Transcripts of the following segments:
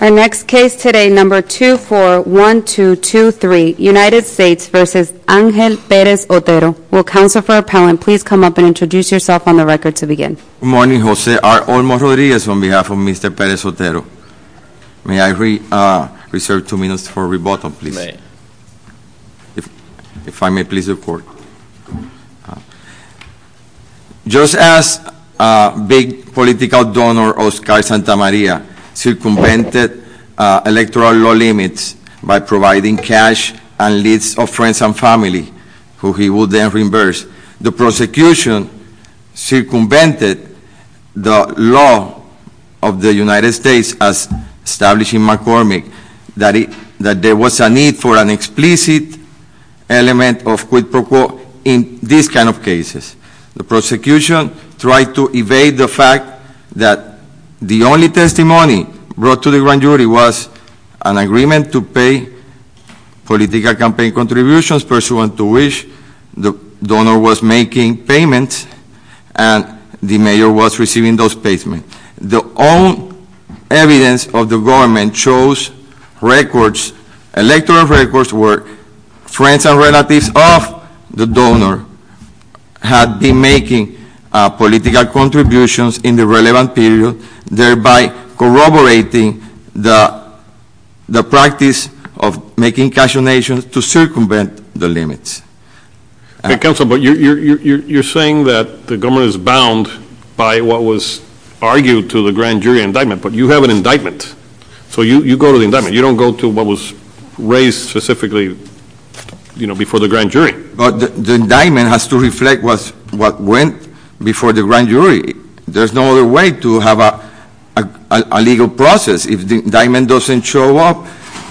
Our next case today, number 241223, United States v. Angel Perez-Otero. Will counsel for appellant please come up and introduce yourself on the record to begin. Good morning, Jose. I'm Olmo Rodriguez on behalf of Mr. Perez-Otero. May I reserve two minutes for rebuttal, please? May. If I may please report. Just as big political donor Oscar Santamaria circumvented electoral law limits by providing cash and lists of friends and family, who he would then reimburse. The prosecution circumvented the law of the United States as established in McCormick. That there was a need for an explicit element of quid pro quo in this kind of cases. The prosecution tried to evade the fact that the only testimony brought to the grand jury was an agreement to pay political campaign contributions pursuant to which the donor was making payments and the mayor was receiving those payments. The own evidence of the government shows records, electoral records were friends and relatives of the donor. Had been making political contributions in the relevant period, thereby corroborating the practice of making cash donations to circumvent the limits. The council, but you're saying that the government is bound by what was argued to the grand jury indictment, but you have an indictment. So you go to the indictment, you don't go to what was raised specifically before the grand jury. But the indictment has to reflect what went before the grand jury. There's no other way to have a legal process if the indictment doesn't show up,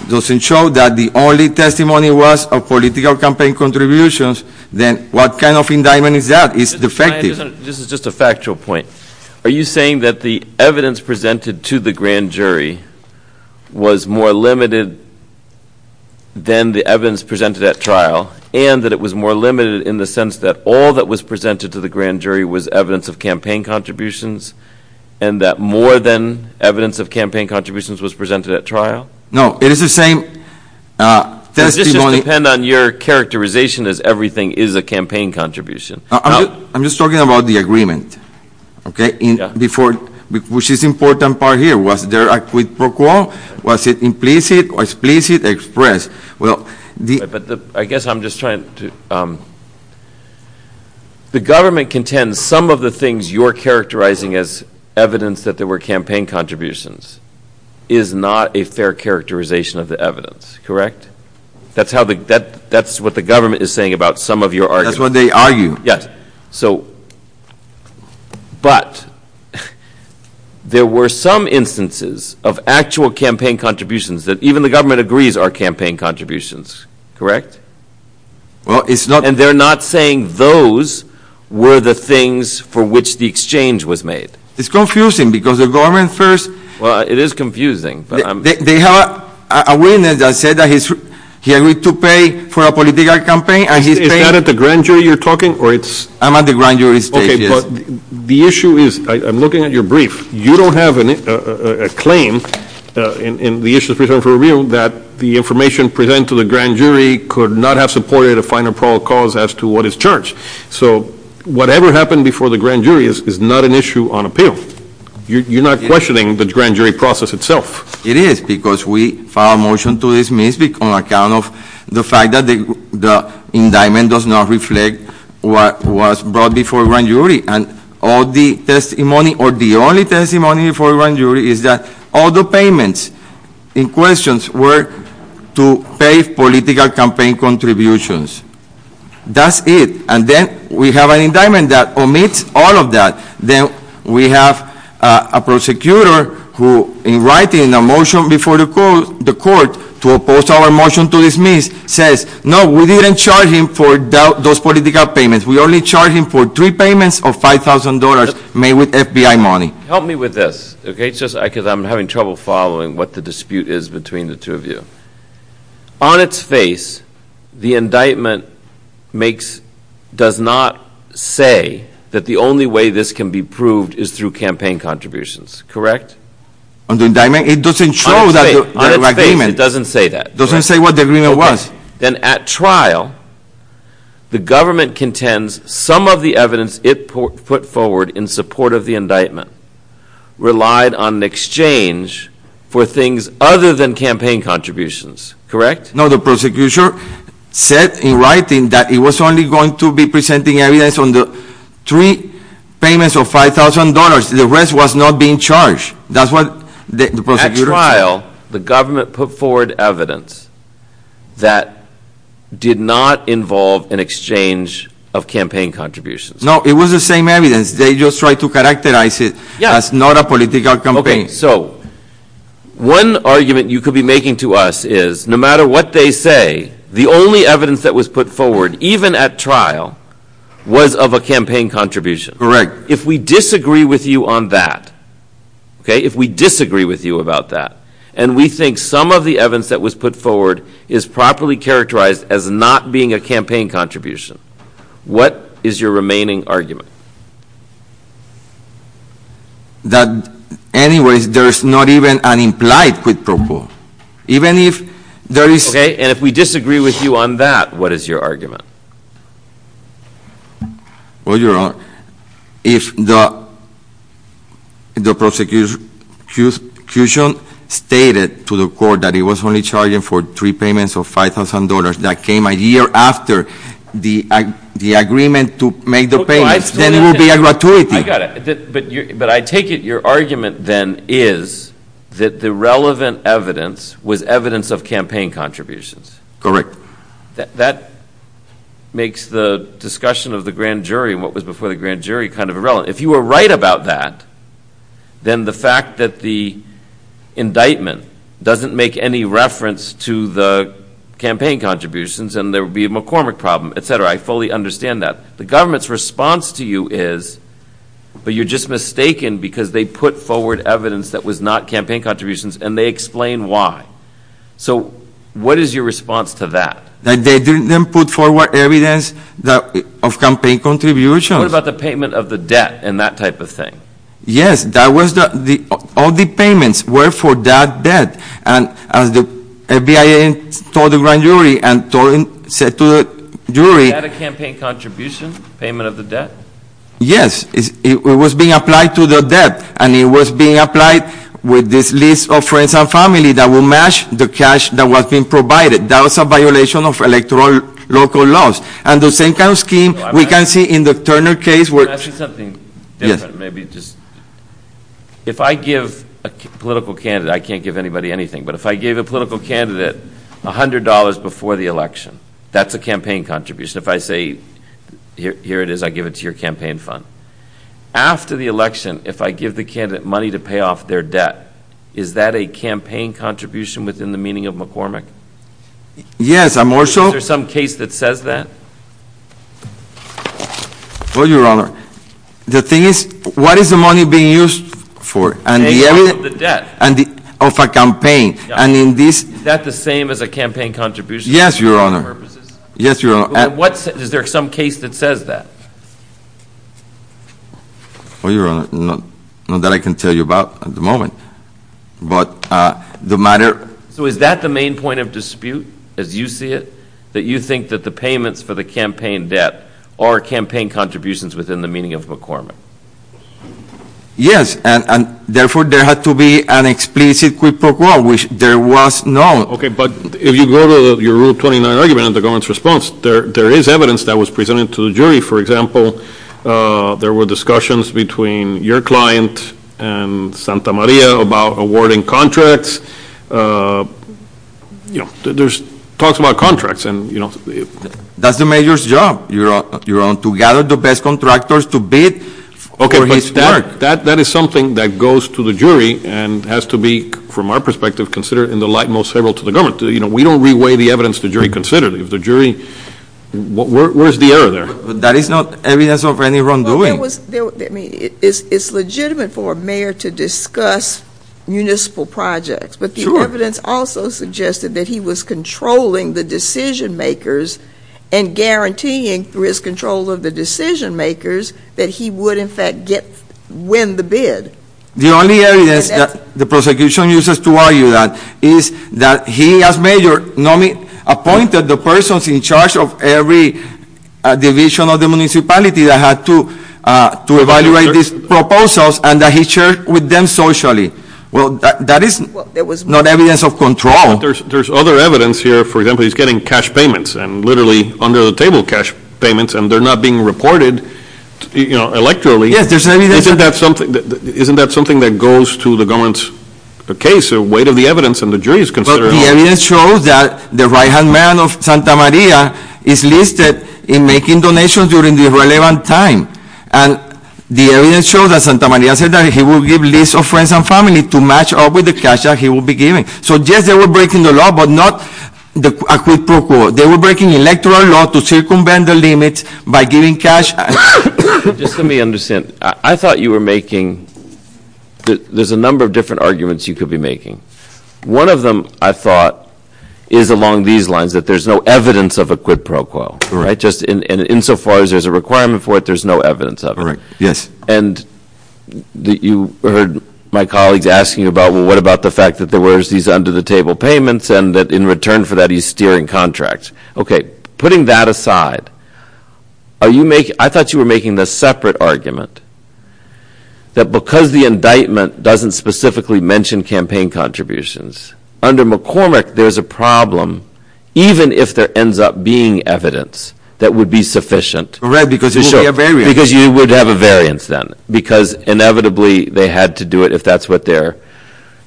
doesn't show that the only testimony was of political campaign contributions, then what kind of indictment is that? It's defective. This is just a factual point. Are you saying that the evidence presented to the grand jury was more limited than the evidence presented at trial, and that it was more limited in the sense that all that was presented to the grand jury was evidence of campaign contributions? And that more than evidence of campaign contributions was presented at trial? No, it is the same testimony- Does this just depend on your characterization as everything is a campaign contribution? I'm just talking about the agreement, okay? Before, which is important part here, was there a quid pro quo? Was it implicit or explicit expressed? Well, the- But I guess I'm just trying to, the government contends some of the things you're characterizing as evidence that there were campaign contributions is not a fair characterization of the evidence, correct? That's what the government is saying about some of your arguments. That's what they argue. Yes, so, but there were some instances of actual campaign contributions that even the government agrees are campaign contributions, correct? Well, it's not- And they're not saying those were the things for which the exchange was made? It's confusing because the government first- Well, it is confusing, but I'm- They have a witness that said that he agreed to pay for a political campaign, and he's paying- Is that at the grand jury you're talking, or it's- I'm at the grand jury stage, yes. Okay, but the issue is, I'm looking at your brief. You don't have a claim in the issue of pre-trial and pre-review that the information presented to the grand jury could not have supported a final prologue cause as to what is charged. So, whatever happened before the grand jury is not an issue on appeal. You're not questioning the grand jury process itself. It is, because we filed a motion to dismiss on account of the fact that the indictment does not reflect what was brought before a grand jury. And all the testimony, or the only testimony before a grand jury is that all the payments in questions were to pay political campaign contributions. That's it, and then we have an indictment that omits all of that. Then we have a prosecutor who, in writing a motion before the court to oppose our motion to dismiss, says, no, we didn't charge him for those political payments. We only charged him for three payments of $5,000 made with FBI money. Help me with this, okay, because I'm having trouble following what the dispute is between the two of you. On its face, the indictment does not say that the only way this can be proved is through campaign contributions, correct? On the indictment? It doesn't show that agreement. On its face, it doesn't say that. It doesn't say what the agreement was. Then at trial, the government contends some of the evidence it put forward in support of the indictment relied on an exchange for things other than campaign contributions, correct? No, the prosecutor said in writing that he was only going to be presenting evidence on the three payments of $5,000. The rest was not being charged. That's what the prosecutor said. At trial, the government put forward evidence that did not involve an exchange of campaign contributions. No, it was the same evidence. They just tried to characterize it as not a political campaign. Okay, so one argument you could be making to us is, no matter what they say, the only evidence that was put forward, even at trial, was of a campaign contribution. Correct. If we disagree with you on that, okay? If we disagree with you about that, and we think some of the evidence that was put forward is properly characterized as not being a campaign contribution, what is your remaining argument? That, anyways, there's not even an implied quid pro quo. Even if there is- Okay, and if we disagree with you on that, what is your argument? Well, Your Honor, if the prosecution stated to the court that he was only charging for three payments of $5,000 that came a year after the agreement to make the payments, then it would be a gratuity. I got it. But I take it your argument, then, is that the relevant evidence was evidence of campaign contributions. Correct. That makes the discussion of the grand jury and what was before the grand jury kind of irrelevant. If you were right about that, then the fact that the indictment doesn't make any reference to the campaign contributions, and there would be a McCormick problem, et cetera, I fully understand that. The government's response to you is, but you're just mistaken because they put forward evidence that was not campaign contributions, and they explain why. So, what is your response to that? That they didn't put forward evidence of campaign contributions. What about the payment of the debt and that type of thing? Yes, all the payments were for that debt. And as the FBI told the grand jury and said to the jury- Was that a campaign contribution, payment of the debt? Yes, it was being applied to the debt, and it was being applied with this list of friends and family that would match the cash that was being provided. That was a violation of electoral local laws. And the same kind of scheme we can see in the Turner case where- Can I ask you something different? Maybe just, if I give a political candidate, I can't give anybody anything, but if I gave a political candidate $100 before the election, that's a campaign contribution. If I say, here it is, I give it to your campaign fund. After the election, if I give the candidate money to pay off their debt, is that a campaign contribution within the meaning of McCormick? Yes, I'm also- Is there some case that says that? Well, Your Honor, the thing is, what is the money being used for? Paying off the debt. Of a campaign, and in this- Is that the same as a campaign contribution? Yes, Your Honor. Yes, Your Honor. Is there some case that says that? Well, Your Honor, not that I can tell you about at the moment, but the matter- So is that the main point of dispute, as you see it? That you think that the payments for the campaign debt are campaign contributions within the meaning of McCormick? Yes, and therefore, there had to be an explicit quid pro quo, which there was no. Okay, but if you go to your Rule 29 argument in the government's response, there is evidence that was presented to the jury. For example, there were discussions between your client and Santa Maria about awarding contracts. There's talks about contracts and- That's the major's job, Your Honor, to gather the best contractors to bid for his debt. Okay, but that is something that goes to the jury and has to be, from our perspective, considered in the light most favorable to the government. We don't re-weigh the evidence the jury considered. If the jury, where's the error there? That is not evidence of any wrongdoing. Well, there was, I mean, it's legitimate for a mayor to discuss municipal projects. But the evidence also suggested that he was controlling the decision makers and guaranteeing through his control of the decision makers that he would, in fact, win the bid. The only evidence that the prosecution uses to argue that is that he, as mayor, appointed the persons in charge of every division of the municipality that had to evaluate these proposals and that he shared with them socially. Well, that is not evidence of control. There's other evidence here. For example, he's getting cash payments, and literally under the table cash payments, and they're not being reported electorally. Yes, there's evidence- Isn't that something that goes to the government's case, the weight of the evidence, and the jury's consideration? The evidence shows that the right-hand man of Santa Maria is listed in making donations during the relevant time. And the evidence shows that Santa Maria said that he will give lists of friends and family to match up with the cash that he will be giving. So yes, they were breaking the law, but not the, they were breaking electoral law to circumvent the limits by giving cash. Just let me understand, I thought you were making, there's a number of different arguments you could be making. One of them, I thought, is along these lines, that there's no evidence of a quid pro quo, right? Just insofar as there's a requirement for it, there's no evidence of it. Correct, yes. And you heard my colleagues asking about, well, what about the fact that there was these under the table payments and that in return for that he's steering contracts? Okay, putting that aside, I thought you were making this separate argument that because the indictment doesn't specifically mention campaign contributions, under McCormick there's a problem even if there ends up being evidence that would be sufficient. Correct, because there would be a variance. Because you would have a variance then, because inevitably they had to do it if that's what they're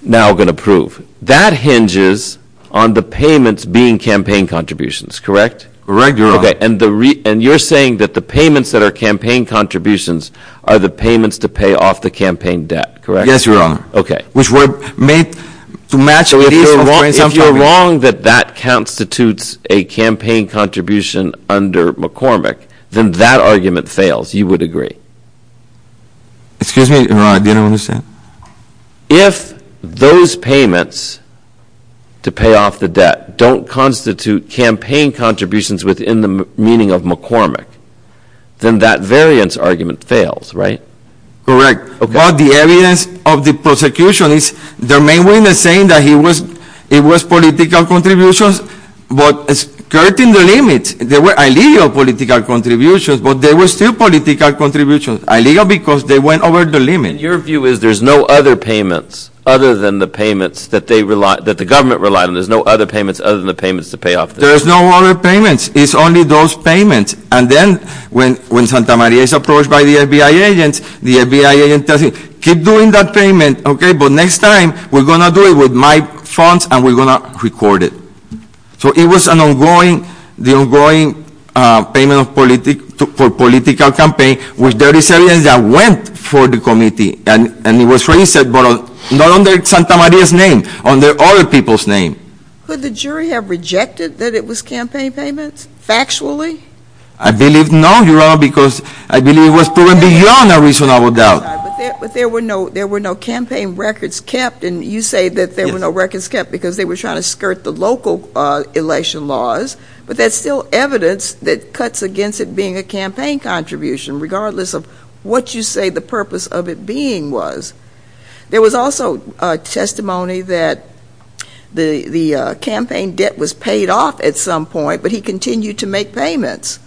now going to prove. That hinges on the payments being campaign contributions, correct? Correct, Your Honor. Okay, and you're saying that the payments that are campaign contributions are the payments to pay off the campaign debt, correct? Yes, Your Honor. Okay. Which were made to match with these- If you're wrong that that constitutes a campaign contribution under McCormick, then that argument fails, you would agree. Excuse me, Your Honor, I didn't understand. If those payments to pay off the debt don't constitute campaign contributions within the meaning of McCormick, then that variance argument fails, right? Correct. But the evidence of the prosecution is the main one is saying that it was political contributions, but it's cutting the limits. There were illegal political contributions, but they were still political contributions. Illegal because they went over the limit. And your view is there's no other payments other than the payments that the government relied on. There's no other payments other than the payments to pay off the debt. There's no other payments. It's only those payments. And then when Santa Maria is approached by the FBI agents, the FBI agent tells him, keep doing that payment, okay? But next time, we're going to do it with my funds and we're going to record it. So it was an ongoing, the ongoing payment for political campaign, which there is evidence that went for the committee. And it was raised, but not under Santa Maria's name, under other people's name. Could the jury have rejected that it was campaign payments, factually? I believe no, Your Honor, because I believe it was proven beyond a reasonable doubt. But there were no campaign records kept. And you say that there were no records kept because they were trying to skirt the local election laws. But that's still evidence that cuts against it being a campaign contribution, regardless of what you say the purpose of it being was. There was also testimony that the campaign debt was paid off at some point, but he continued to make payments.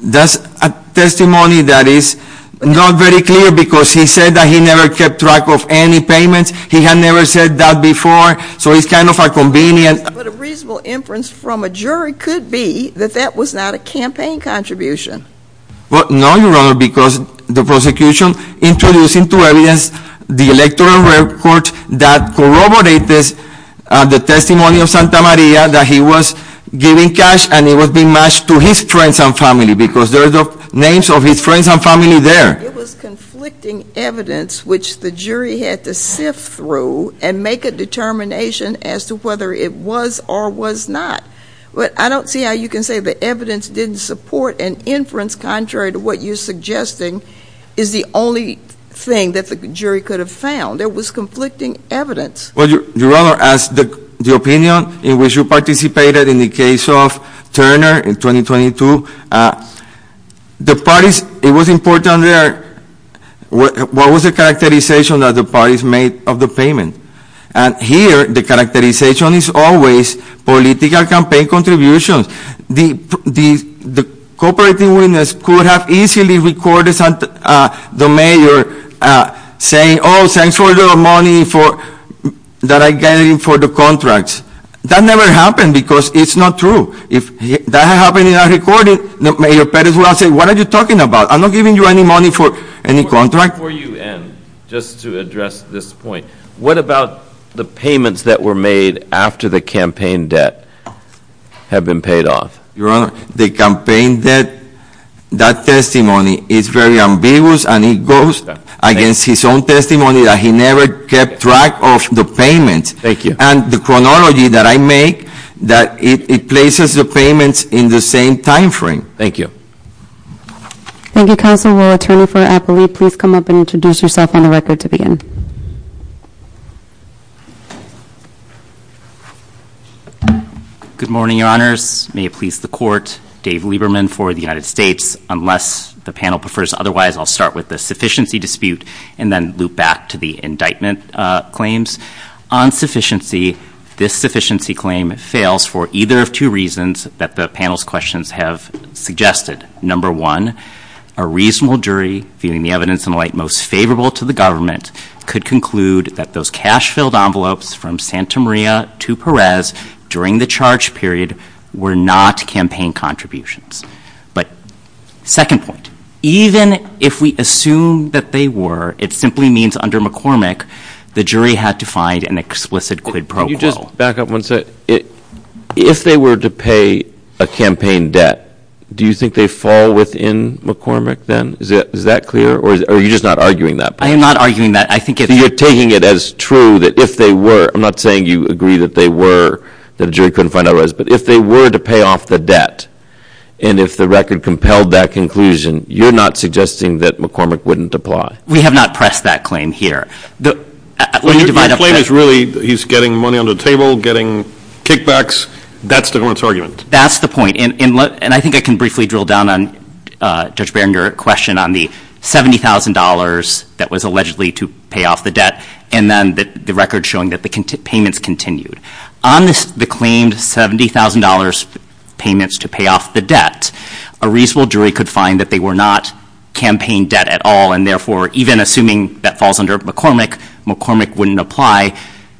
That's a testimony that is not very clear, because he said that he never kept track of any payments. He had never said that before, so it's kind of a convenient- But a reasonable inference from a jury could be that that was not a campaign contribution. Well, no, Your Honor, because the prosecution introduced into evidence the electoral record that corroborates the testimony of Santa Maria that he was giving cash and it was being matched to his friends and family, because there are the names of his friends and family there. It was conflicting evidence which the jury had to sift through and make a determination as to whether it was or was not. But I don't see how you can say the evidence didn't support an inference contrary to what you're suggesting is the only thing that the jury could have found. There was conflicting evidence. Well, Your Honor, as the opinion in which you participated in the case of Turner in 2022, the parties, it was important there, what was the characterization that the parties made of the payment? And here, the characterization is always political campaign contributions. The cooperating witness could have easily recorded the mayor saying, thanks for the money that I'm getting for the contracts. That never happened because it's not true. If that happened in a recording, Mayor Perez would have said, what are you talking about? I'm not giving you any money for any contract. Before you end, just to address this point, what about the payments that were made after the campaign debt have been paid off? Your Honor, the campaign debt, that testimony is very ambiguous and it goes against his own testimony that he never kept track of the payment. Thank you. And the chronology that I make, that it places the payments in the same time frame. Thank you. Thank you, Counsel. Will Attorney for Appalachia please come up and introduce yourself on the record to begin? Good morning, Your Honors. May it please the court, Dave Lieberman for the United States. Unless the panel prefers otherwise, I'll start with the sufficiency dispute and then loop back to the indictment claims. On sufficiency, this sufficiency claim fails for either of two reasons that the panel's questions have suggested. Number one, a reasonable jury, viewing the evidence in light most favorable to the government, could conclude that those cash filled envelopes from Santa Maria to Perez during the charge period were not campaign contributions. But second point, even if we assume that they were, it simply means under McCormick, the jury had to find an explicit quid pro quo. Can you just back up one second? If they were to pay a campaign debt, do you think they fall within McCormick then? Is that clear? Or are you just not arguing that point? I am not arguing that. I think if- You're taking it as true that if they were, I'm not saying you agree that they were, that a jury couldn't find otherwise, but if they were to pay off the debt, and if the record compelled that conclusion, you're not suggesting that McCormick wouldn't apply? We have not pressed that claim here. Let me divide up that- Your claim is really, he's getting money under the table, getting kickbacks, that's the government's argument. That's the point, and I think I can briefly drill down on Judge Barron, your question on the $70,000 that was allegedly to pay off the debt, and then the record showing that the payments continued. On the claimed $70,000 payments to pay off the debt, a reasonable jury could find that they were not campaign debt at all, and therefore, even assuming that falls under McCormick, McCormick wouldn't apply.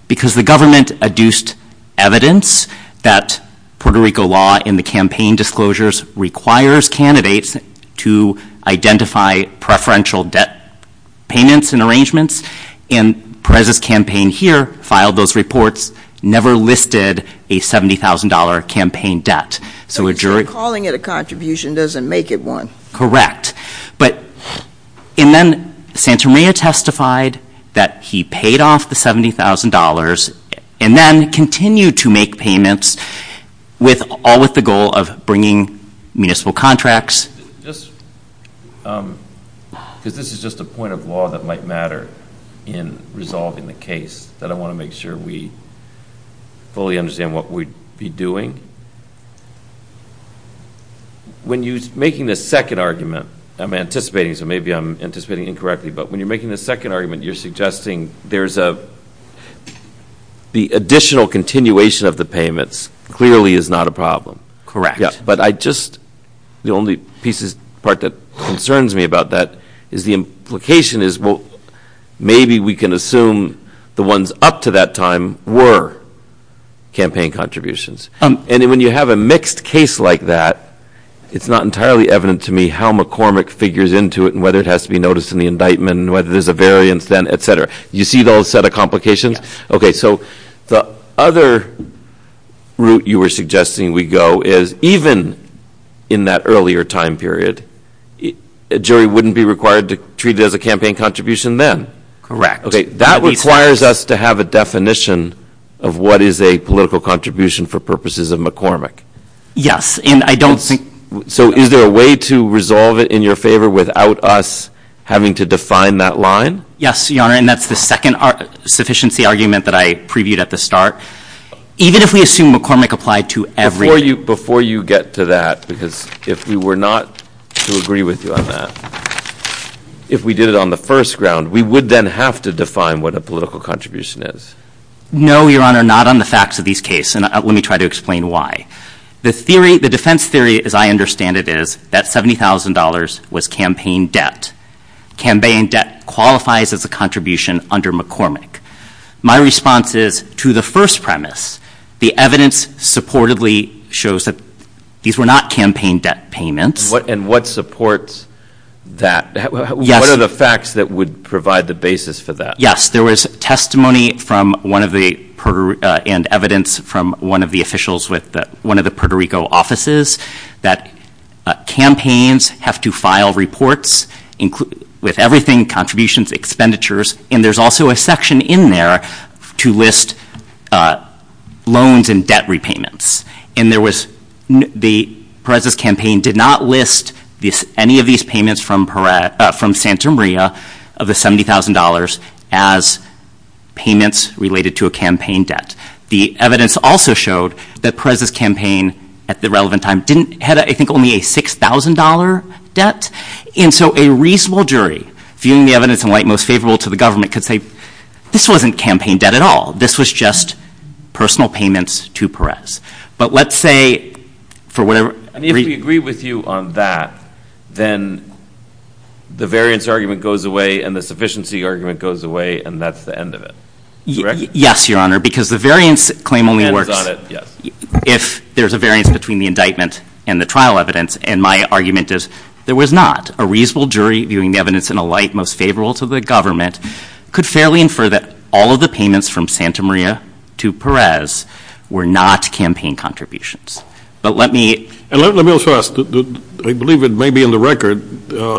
Because the government adduced evidence that Puerto Rico law in the campaign disclosures requires candidates to identify preferential debt payments and arrangements. And Perez's campaign here filed those reports, never listed a $70,000 campaign debt. So a jury- Calling it a contribution doesn't make it one. Correct. But, and then Santamaria testified that he paid off the $70,000 and then continued to make payments, all with the goal of bringing municipal contracts. Just, because this is just a point of law that might matter in resolving the case, that I want to make sure we fully understand what we'd be doing. When you're making the second argument, I'm anticipating, so maybe I'm anticipating incorrectly. But when you're making the second argument, you're suggesting there's a, the additional continuation of the payments clearly is not a problem. Correct. But I just, the only pieces, part that concerns me about that is the implication is, well, maybe we can assume the ones up to that time were campaign contributions. And when you have a mixed case like that, it's not entirely evident to me how McCormick figures into it, and whether it has to be noticed in the indictment, and whether there's a variance then, etc. You see those set of complications? Okay, so the other route you were suggesting we go is even in that earlier time period, a jury wouldn't be required to treat it as a campaign contribution then. Correct. Okay, that requires us to have a definition of what is a political contribution for purposes of McCormick. Yes, and I don't think- So is there a way to resolve it in your favor without us having to define that line? Yes, Your Honor, and that's the second sufficiency argument that I previewed at the start. Even if we assume McCormick applied to every- Before you get to that, because if we were not to agree with you on that, if we did it on the first ground, we would then have to define what a political contribution is. No, Your Honor, not on the facts of these cases, and let me try to explain why. The theory, the defense theory as I understand it is that $70,000 was campaign debt. Campaign debt qualifies as a contribution under McCormick. My response is, to the first premise, the evidence supportedly shows that these were not campaign debt payments. And what supports that? What are the facts that would provide the basis for that? Yes, there was testimony and evidence from one of the officials with one of the Puerto Rico offices that campaigns have to file reports with everything, contributions, expenditures. And there's also a section in there to list loans and debt repayments. And there was, Perez's campaign did not list any of these payments from Santa Maria of the $70,000 as payments related to a campaign debt. The evidence also showed that Perez's campaign, at the relevant time, didn't have, I think, only a $6,000 debt. And so a reasonable jury, viewing the evidence in light most favorable to the government, could say, this wasn't campaign debt at all. This was just personal payments to Perez. But let's say, for whatever- And if we agree with you on that, then the variance argument goes away and the sufficiency argument goes away, and that's the end of it, correct? Yes, Your Honor, because the variance claim only works if there's a variance between the indictment and the trial evidence. And my argument is, there was not. A reasonable jury, viewing the evidence in a light most favorable to the government, could fairly infer that all of the payments from Santa Maria to Perez were not campaign contributions. But let me- And let me also ask, I believe it may be in the record,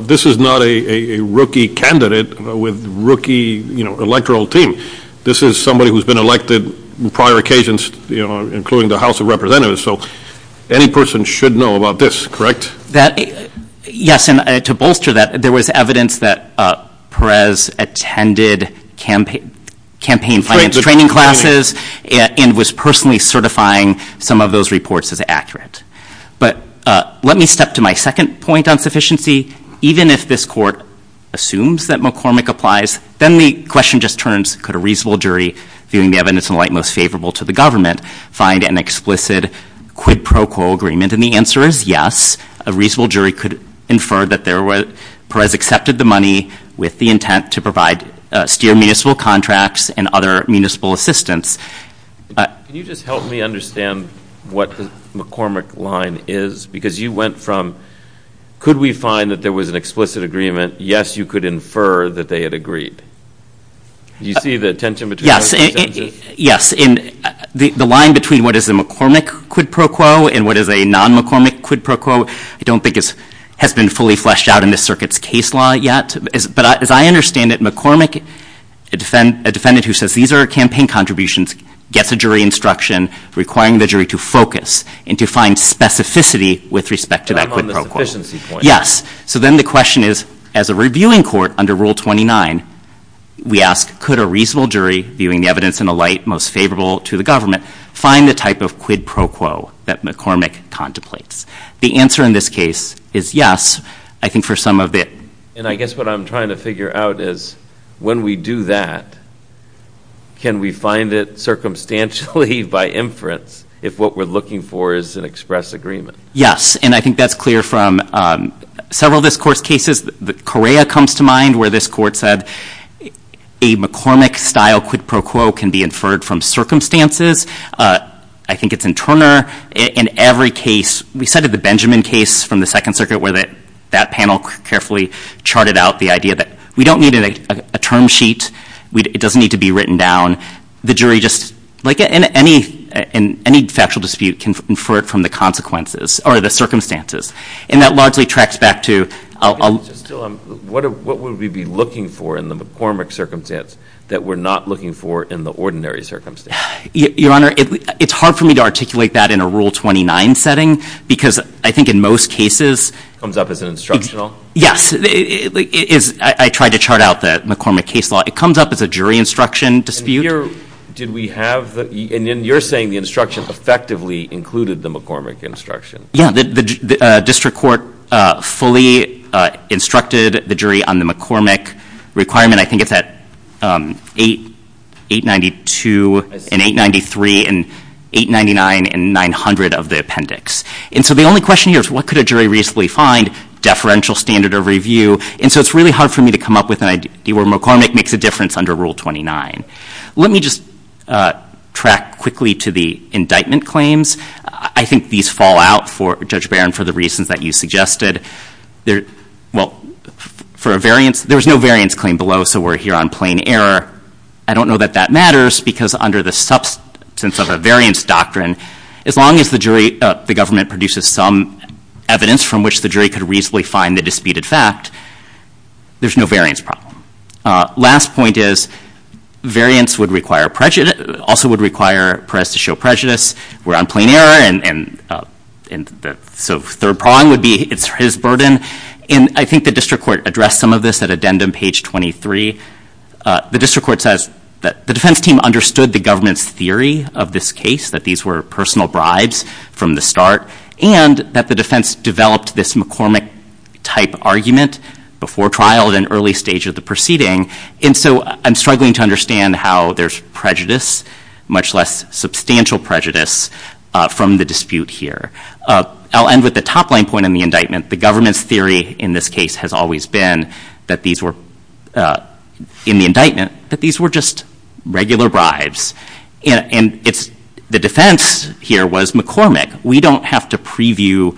this is not a rookie candidate with rookie electoral team. This is somebody who's been elected on prior occasions, including the House of Representatives, so any person should know about this, correct? Yes, and to bolster that, there was evidence that Perez attended campaign finance training classes. And was personally certifying some of those reports as accurate. But let me step to my second point on sufficiency. Even if this court assumes that McCormick applies, then the question just turns, could a reasonable jury, viewing the evidence in light most favorable to the government, find an explicit quid pro quo agreement? And the answer is yes, a reasonable jury could infer that Perez accepted the money with the intent to provide, steer municipal contracts and other municipal assistance. Can you just help me understand what the McCormick line is? Because you went from, could we find that there was an explicit agreement? Yes, you could infer that they had agreed. Did you see the tension between those two sentences? Yes, and the line between what is a McCormick quid pro quo and what is a non-McCormick quid pro quo, I don't think has been fully fleshed out in this circuit's case law yet. But as I understand it, McCormick, a defendant who says these are campaign contributions, gets a jury instruction requiring the jury to focus and to find specificity with respect to that quid pro quo. Yes, so then the question is, as a reviewing court under Rule 29, we ask, could a reasonable jury, viewing the evidence in a light most favorable to the government, find the type of quid pro quo that McCormick contemplates? The answer in this case is yes, I think for some of it. And I guess what I'm trying to figure out is, when we do that, can we find it circumstantially by inference if what we're looking for is an express agreement? Yes, and I think that's clear from several of this court's cases. Correa comes to mind where this court said, a McCormick style quid pro quo can be inferred from circumstances. I think it's in Turner. In every case, we cited the Benjamin case from the Second Circuit where that panel carefully charted out the idea that we don't need a term sheet, it doesn't need to be written down. The jury just, like in any factual dispute, can infer it from the consequences or the circumstances. And that largely tracks back to- Just tell them, what would we be looking for in the McCormick circumstance that we're not looking for in the ordinary circumstance? Your Honor, it's hard for me to articulate that in a Rule 29 setting, because I think in most cases- Comes up as an instructional? Yes, I tried to chart out the McCormick case law. It comes up as a jury instruction dispute. Did we have, and you're saying the instruction effectively included the McCormick instruction. Yeah, the district court fully instructed the jury on the McCormick requirement. I think it's at 892 and 893 and 899 and 900 of the appendix. And so the only question here is, what could a jury reasonably find? Deferential standard of review. And so it's really hard for me to come up with an idea where McCormick makes a difference under Rule 29. Let me just track quickly to the indictment claims. I think these fall out for, Judge Barron, for the reasons that you suggested. Well, for a variance, there was no variance claim below, so we're here on plain error. I don't know that that matters, because under the substance of a variance doctrine, as long as the government produces some evidence from which the jury could reasonably find the disputed fact, there's no variance problem. Last point is, variance also would require Perez to show prejudice. We're on plain error, and so third prong would be his burden. And I think the district court addressed some of this at addendum page 23. The district court says that the defense team understood the government's theory of this case, that these were personal bribes from the start, and that the defense developed this McCormick type argument before trial at an early stage of the proceeding. And so I'm struggling to understand how there's prejudice, much less substantial prejudice, from the dispute here. I'll end with the top line point in the indictment. The government's theory in this case has always been that these were, in the indictment, that these were just regular bribes. And the defense here was McCormick. We don't have to preview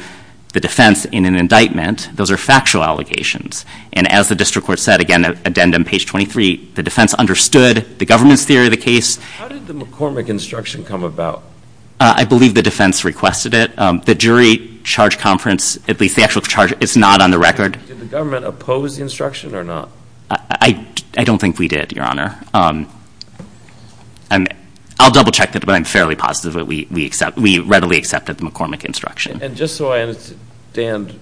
the defense in an indictment. Those are factual allegations. And as the district court said, again, addendum page 23, the defense understood the government's theory of the case. How did the McCormick instruction come about? I believe the defense requested it. The jury charge conference, at least the actual charge, is not on the record. Did the government oppose the instruction or not? I don't think we did, your honor. I'll double check that, but I'm fairly positive that we readily accepted the McCormick instruction. And just so I understand,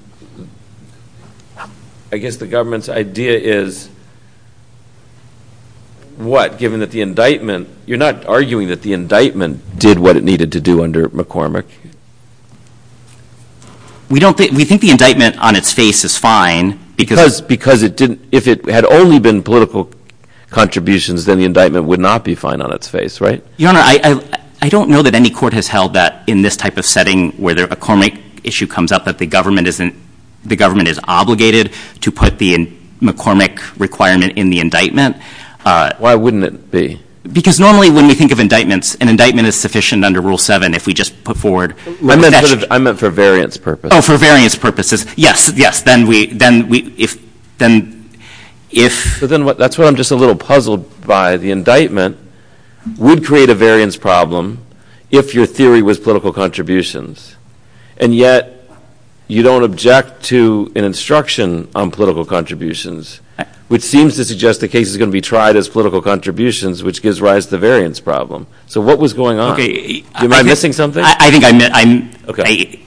I guess the government's idea is what, given that the indictment, you're not arguing that the indictment did what it needed to do under McCormick? We don't think, we think the indictment on its face is fine. Because it didn't, if it had only been political contributions, then the indictment would not be fine on its face, right? Your honor, I don't know that any court has held that in this type of setting, where a McCormick issue comes up, that the government is obligated to put the McCormick requirement in the indictment. Why wouldn't it be? Because normally when we think of indictments, an indictment is sufficient under Rule 7 if we just put forward- I meant for variance purposes. Oh, for variance purposes. Yes, yes, then we, if, then, if- So then what, that's what I'm just a little puzzled by. The indictment would create a variance problem if your theory was political contributions. And yet, you don't object to an instruction on political contributions, which seems to suggest the case is going to be tried as political contributions, which gives rise to the variance problem. So what was going on? Okay. Am I missing something? I think I'm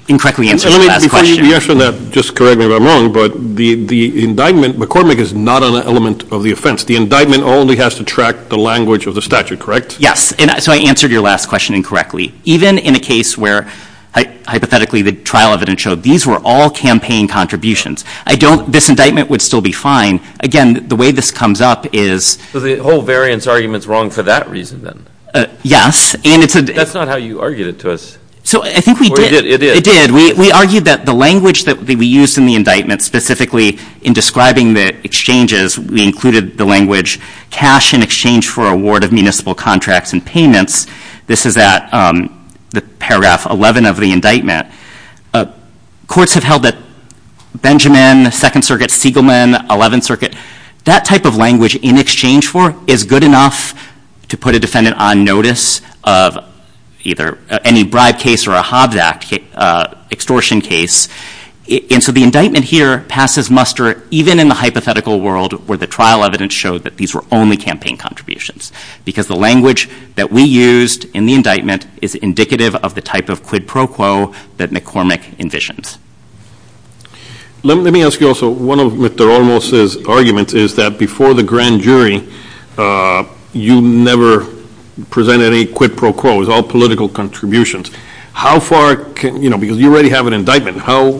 incorrectly answering the last question. You answered that, just correct me if I'm wrong, but the indictment, McCormick is not an element of the offense. The indictment only has to track the language of the statute, correct? Yes. And so I answered your last question incorrectly. Even in a case where, hypothetically, the trial evidence showed these were all campaign contributions. I don't, this indictment would still be fine. Again, the way this comes up is- So the whole variance argument's wrong for that reason, then? Yes, and it's a- That's not how you argued it to us. So I think we did. It did. We argued that the language that we used in the indictment, specifically in describing the exchanges, we included the language, cash in exchange for award of municipal contracts and payments. This is at the paragraph 11 of the indictment. Courts have held that Benjamin, Second Circuit, Siegelman, Eleventh Circuit, that type of language in exchange for is good enough to put a defendant on notice of either any bribe case or a Hobbs Act. Extortion case. And so the indictment here passes muster, even in the hypothetical world where the trial evidence showed that these were only campaign contributions. Because the language that we used in the indictment is indicative of the type of quid pro quo that McCormick envisions. Let me ask you also, one of Mr. Olmos' arguments is that before the grand jury, you never presented a quid pro quo. It was all political contributions. How far can, because you already have an indictment, how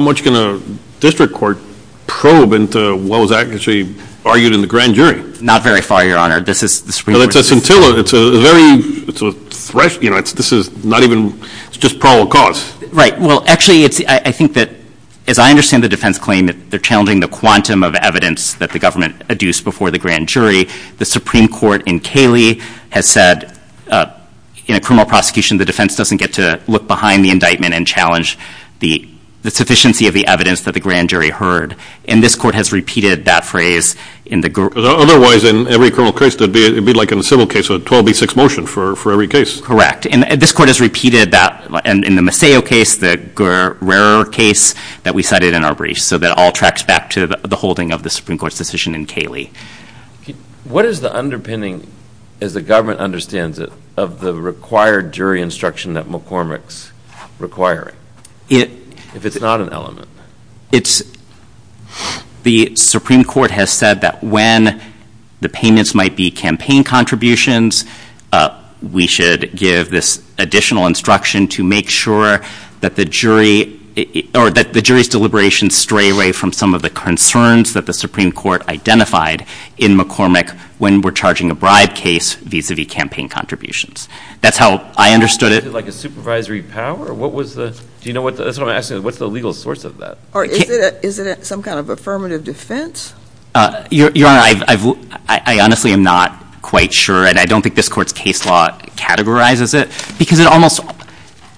much can a district court probe into what was actually argued in the grand jury? Not very far, your honor. This is, the Supreme Court- It's a scintilla, it's a very, it's a thresh, this is not even, it's just parole cause. Right, well actually, I think that, as I understand the defense claim, that they're challenging the quantum of evidence that the government adduced before the grand jury. The Supreme Court in Cayley has said, in a criminal prosecution, the defense doesn't get to look behind the indictment and challenge the sufficiency of the evidence that the grand jury heard. And this court has repeated that phrase in the- Because otherwise, in every criminal case, it would be like in a civil case, a 12B6 motion for every case. Correct, and this court has repeated that in the Maceo case, the Rarer case that we cited in our brief. So that all tracks back to the holding of the Supreme Court's decision in Cayley. What is the underpinning, as the government understands it, of the required jury instruction that McCormick's requiring? If it's not an element. It's, the Supreme Court has said that when the payments might be campaign contributions, we should give this additional instruction to make sure that the jury, or that the jury's deliberations stray away from some of the concerns that the Supreme Court identified in McCormick when we're charging a bribe case vis-a-vis campaign contributions. That's how I understood it. Like a supervisory power? What was the, do you know what, that's what I'm asking, what's the legal source of that? Or is it some kind of affirmative defense? Your Honor, I honestly am not quite sure, and I don't think this court's case law categorizes it. Because it almost,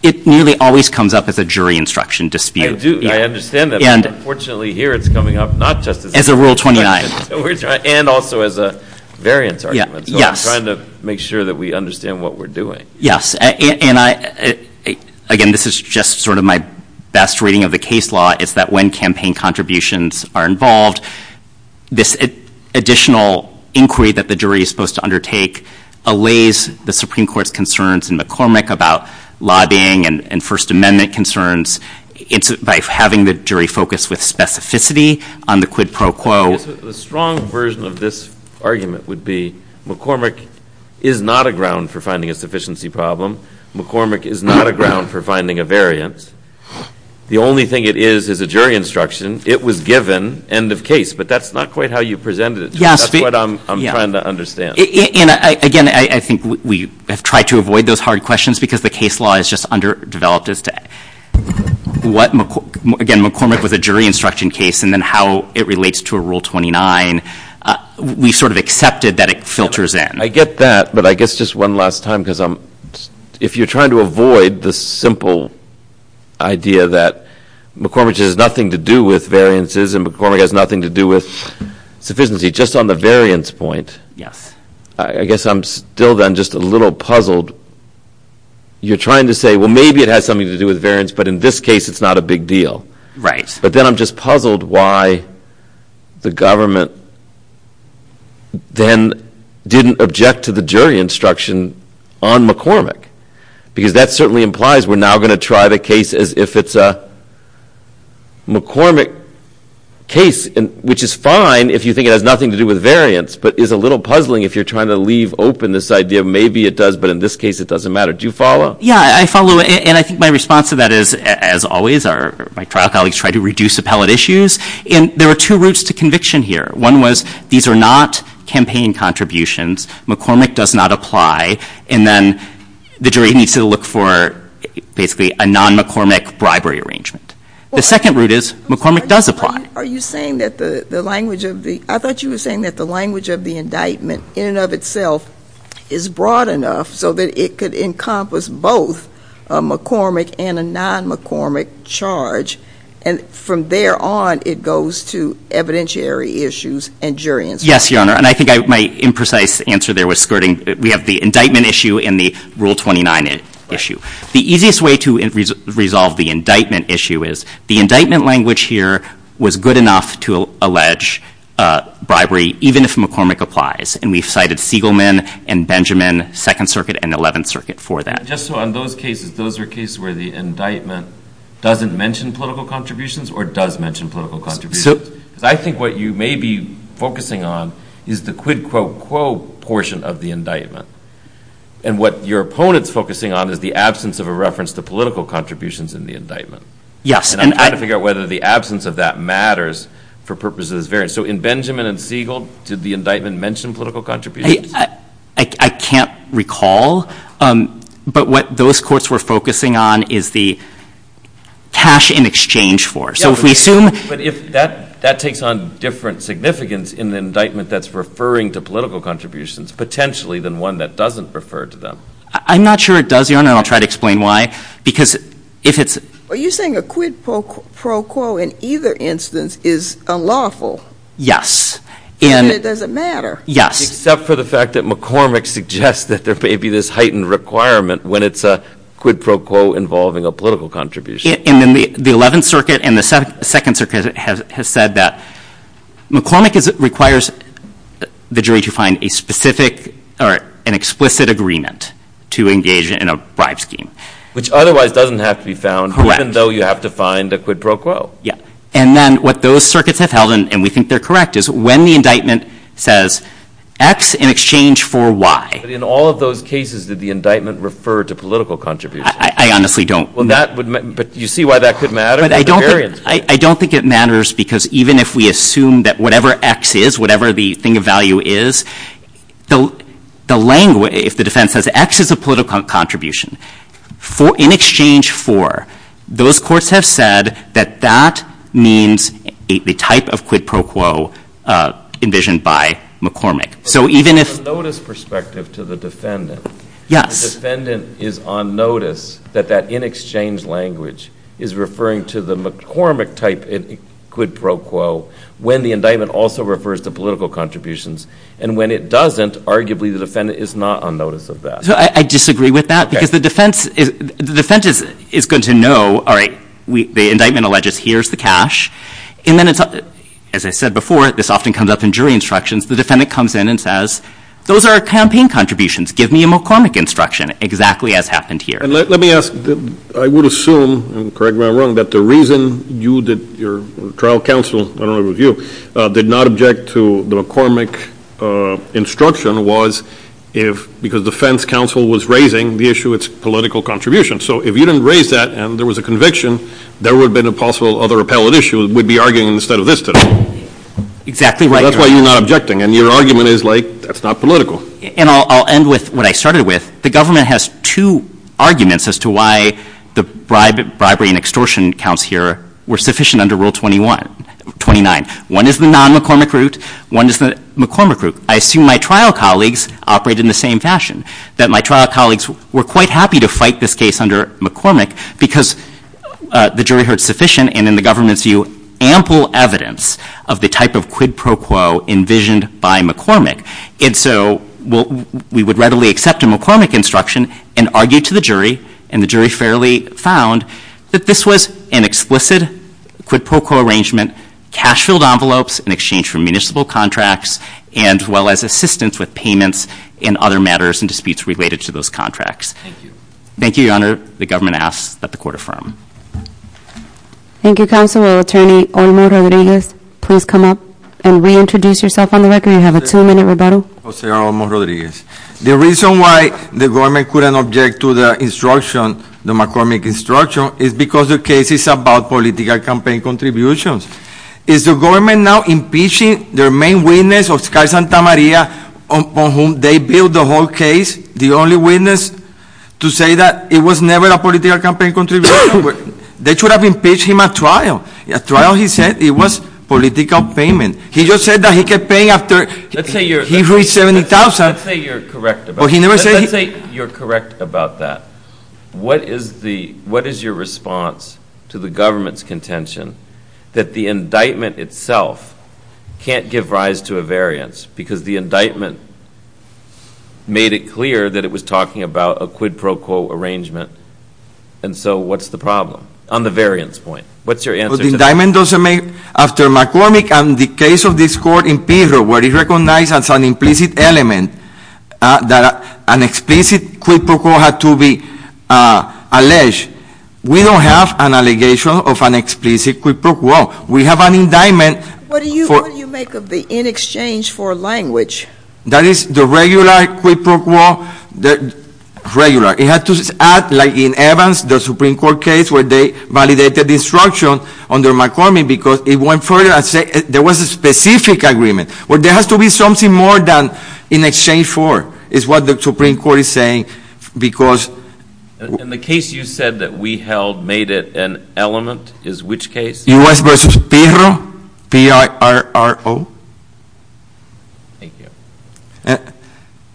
it nearly always comes up as a jury instruction dispute. I do, I understand that. And unfortunately here it's coming up not just as a- As a rule 29. And also as a variance argument. So I'm trying to make sure that we understand what we're doing. Yes, and I, again, this is just sort of my best reading of the case law, is that when campaign contributions are involved, this additional inquiry that the jury is supposed to undertake allays the Supreme Court's concerns in McCormick about lobbying and First Amendment concerns by having the jury focus with specificity on the quid pro quo. The strong version of this argument would be McCormick is not a ground for finding a sufficiency problem. McCormick is not a ground for finding a variance. The only thing it is is a jury instruction. It was given, end of case. But that's not quite how you presented it. That's what I'm trying to understand. And again, I think we have tried to avoid those hard questions because the case law is just underdeveloped as to what, again, McCormick was a jury instruction case and then how it relates to a rule 29. We sort of accepted that it filters in. I get that, but I guess just one last time, because if you're trying to avoid the simple idea that McCormick has nothing to do with variances and McCormick has nothing to do with sufficiency, just on the variance point, I guess I'm still then just a little puzzled. You're trying to say, well, maybe it has something to do with variance, but in this case it's not a big deal. But then I'm just puzzled why the government then didn't object to the jury instruction on McCormick. Because that certainly implies we're now going to try the case as if it's a McCormick case, which is fine if you think it has nothing to do with variance, but is a little puzzling if you're trying to leave open this idea of maybe it does, but in this case it doesn't matter. Do you follow? Yeah, I follow. And I think my response to that is, as always, my trial colleagues try to reduce appellate issues. And there are two routes to conviction here. One was, these are not campaign contributions. McCormick does not apply, and then the jury needs to look for basically a non-McCormick bribery arrangement. The second route is, McCormick does apply. Are you saying that the language of the, I thought you were saying that the language of the indictment, in and of itself, is broad enough so that it could encompass both a McCormick and a non-McCormick charge. And from there on, it goes to evidentiary issues and jury instruction. Yes, Your Honor, and I think my imprecise answer there was skirting. We have the indictment issue and the Rule 29 issue. The easiest way to resolve the indictment issue is, the indictment language here was good enough to allege bribery, even if McCormick applies. And we've cited Siegelman and Benjamin, Second Circuit and Eleventh Circuit for that. Just so on those cases, those are cases where the indictment doesn't mention political contributions or does mention political contributions. I think what you may be focusing on is the quid quo quo portion of the indictment. And what your opponent's focusing on is the absence of a reference to political contributions in the indictment. Yes. And I'm trying to figure out whether the absence of that matters for purposes of this variant. So in Benjamin and Siegel, did the indictment mention political contributions? I can't recall, but what those courts were focusing on is the cash in exchange for. So if we assume- But if that takes on different significance in the indictment that's referring to political contributions, potentially than one that doesn't refer to them. I'm not sure it does, Your Honor, and I'll try to explain why. Because if it's- Are you saying a quid pro quo in either instance is unlawful? Yes. And it doesn't matter. Yes. Except for the fact that McCormick suggests that there may be this heightened requirement when it's a quid pro quo involving a political contribution. And then the 11th Circuit and the 2nd Circuit has said that McCormick requires the jury to find a specific or an explicit agreement to engage in a bribe scheme. Which otherwise doesn't have to be found, even though you have to find a quid pro quo. Yeah. And then what those circuits have held, and we think they're correct, is when the indictment says X in exchange for Y- But in all of those cases, did the indictment refer to political contributions? I honestly don't- But you see why that could matter? But I don't think it matters, because even if we assume that whatever X is, whatever the thing of value is, if the defense says X is a political contribution, in exchange for, those courts have said that that means the type of quid pro quo envisioned by McCormick. So even if- From a notice perspective to the defendant- Yes. The defendant is on notice that that in exchange language is referring to the McCormick type quid pro quo, when the indictment also refers to political contributions. And when it doesn't, arguably the defendant is not on notice of that. So I disagree with that, because the defense is going to know, all right, the indictment alleges here's the cash. And then it's- As I said before, this often comes up in jury instructions. The defendant comes in and says, those are campaign contributions. Give me a McCormick instruction, exactly as happened here. And let me ask, I would assume, and correct me if I'm wrong, that the reason you did- your trial counsel, I don't know if it was you, did not object to the McCormick instruction was if- because defense counsel was raising the issue, it's political contribution. So if you didn't raise that and there was a conviction, there would have been a possible other appellate issue, we'd be arguing instead of this today. Exactly right. That's why you're not objecting. And your argument is like, that's not political. And I'll end with what I started with. The government has two arguments as to why the bribery and extortion counts here were sufficient under Rule 21-29. One is the non-McCormick route. One is the McCormick route. I assume my trial colleagues operate in the same fashion, that my trial colleagues were quite happy to fight this case under McCormick because the jury heard sufficient, and in the government's view, ample evidence of the type of quid pro quo envisioned by McCormick. And so we would readily accept a McCormick instruction and argue to the jury. And the jury fairly found that this was an explicit quid pro quo arrangement, cash filled envelopes in exchange for municipal contracts, as well as assistance with payments and other matters and disputes related to those contracts. Thank you. Thank you, Your Honor. The government asks that the court affirm. Thank you, Counselor. Attorney Olmo Rodriguez, please come up and reintroduce yourself on the record. You have a two-minute rebuttal. Jose R. Olmo Rodriguez. The reason why the government couldn't object to the instruction, the McCormick instruction, is because the case is about political campaign contributions. Is the government now impeaching their main witness, Oscar Santamaria, upon whom they build the whole case? The only witness to say that it was never a political campaign contribution? They should have impeached him at trial. At trial, he said it was political payment. He just said that he kept paying after he reached $70,000. Let's say you're correct about that. What is your response to the government's contention that the indictment itself can't give rise to a variance because the indictment made it clear that it was talking about a quid pro quo arrangement? And so what's the problem on the variance point? What's your answer to that? After McCormick and the case of this court in Piro, where it recognized as an implicit element that an explicit quid pro quo had to be alleged, we don't have an allegation of an explicit quid pro quo. We have an indictment. What do you make of the in exchange for language? That is the regular quid pro quo, regular. It had to act like in Evans, the Supreme Court case, where they validated the instruction under McCormick because it went further and said there was a specific agreement. Well, there has to be something more than in exchange for is what the Supreme Court is saying because— And the case you said that we held made it an element is which case? U.S. v. Piro. P-I-R-O. Thank you.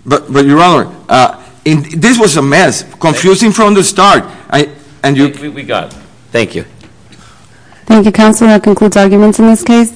But, Your Honor, this was a mess, confusing from the start. We got it. Thank you. Thank you, Counselor. That concludes arguments in this case.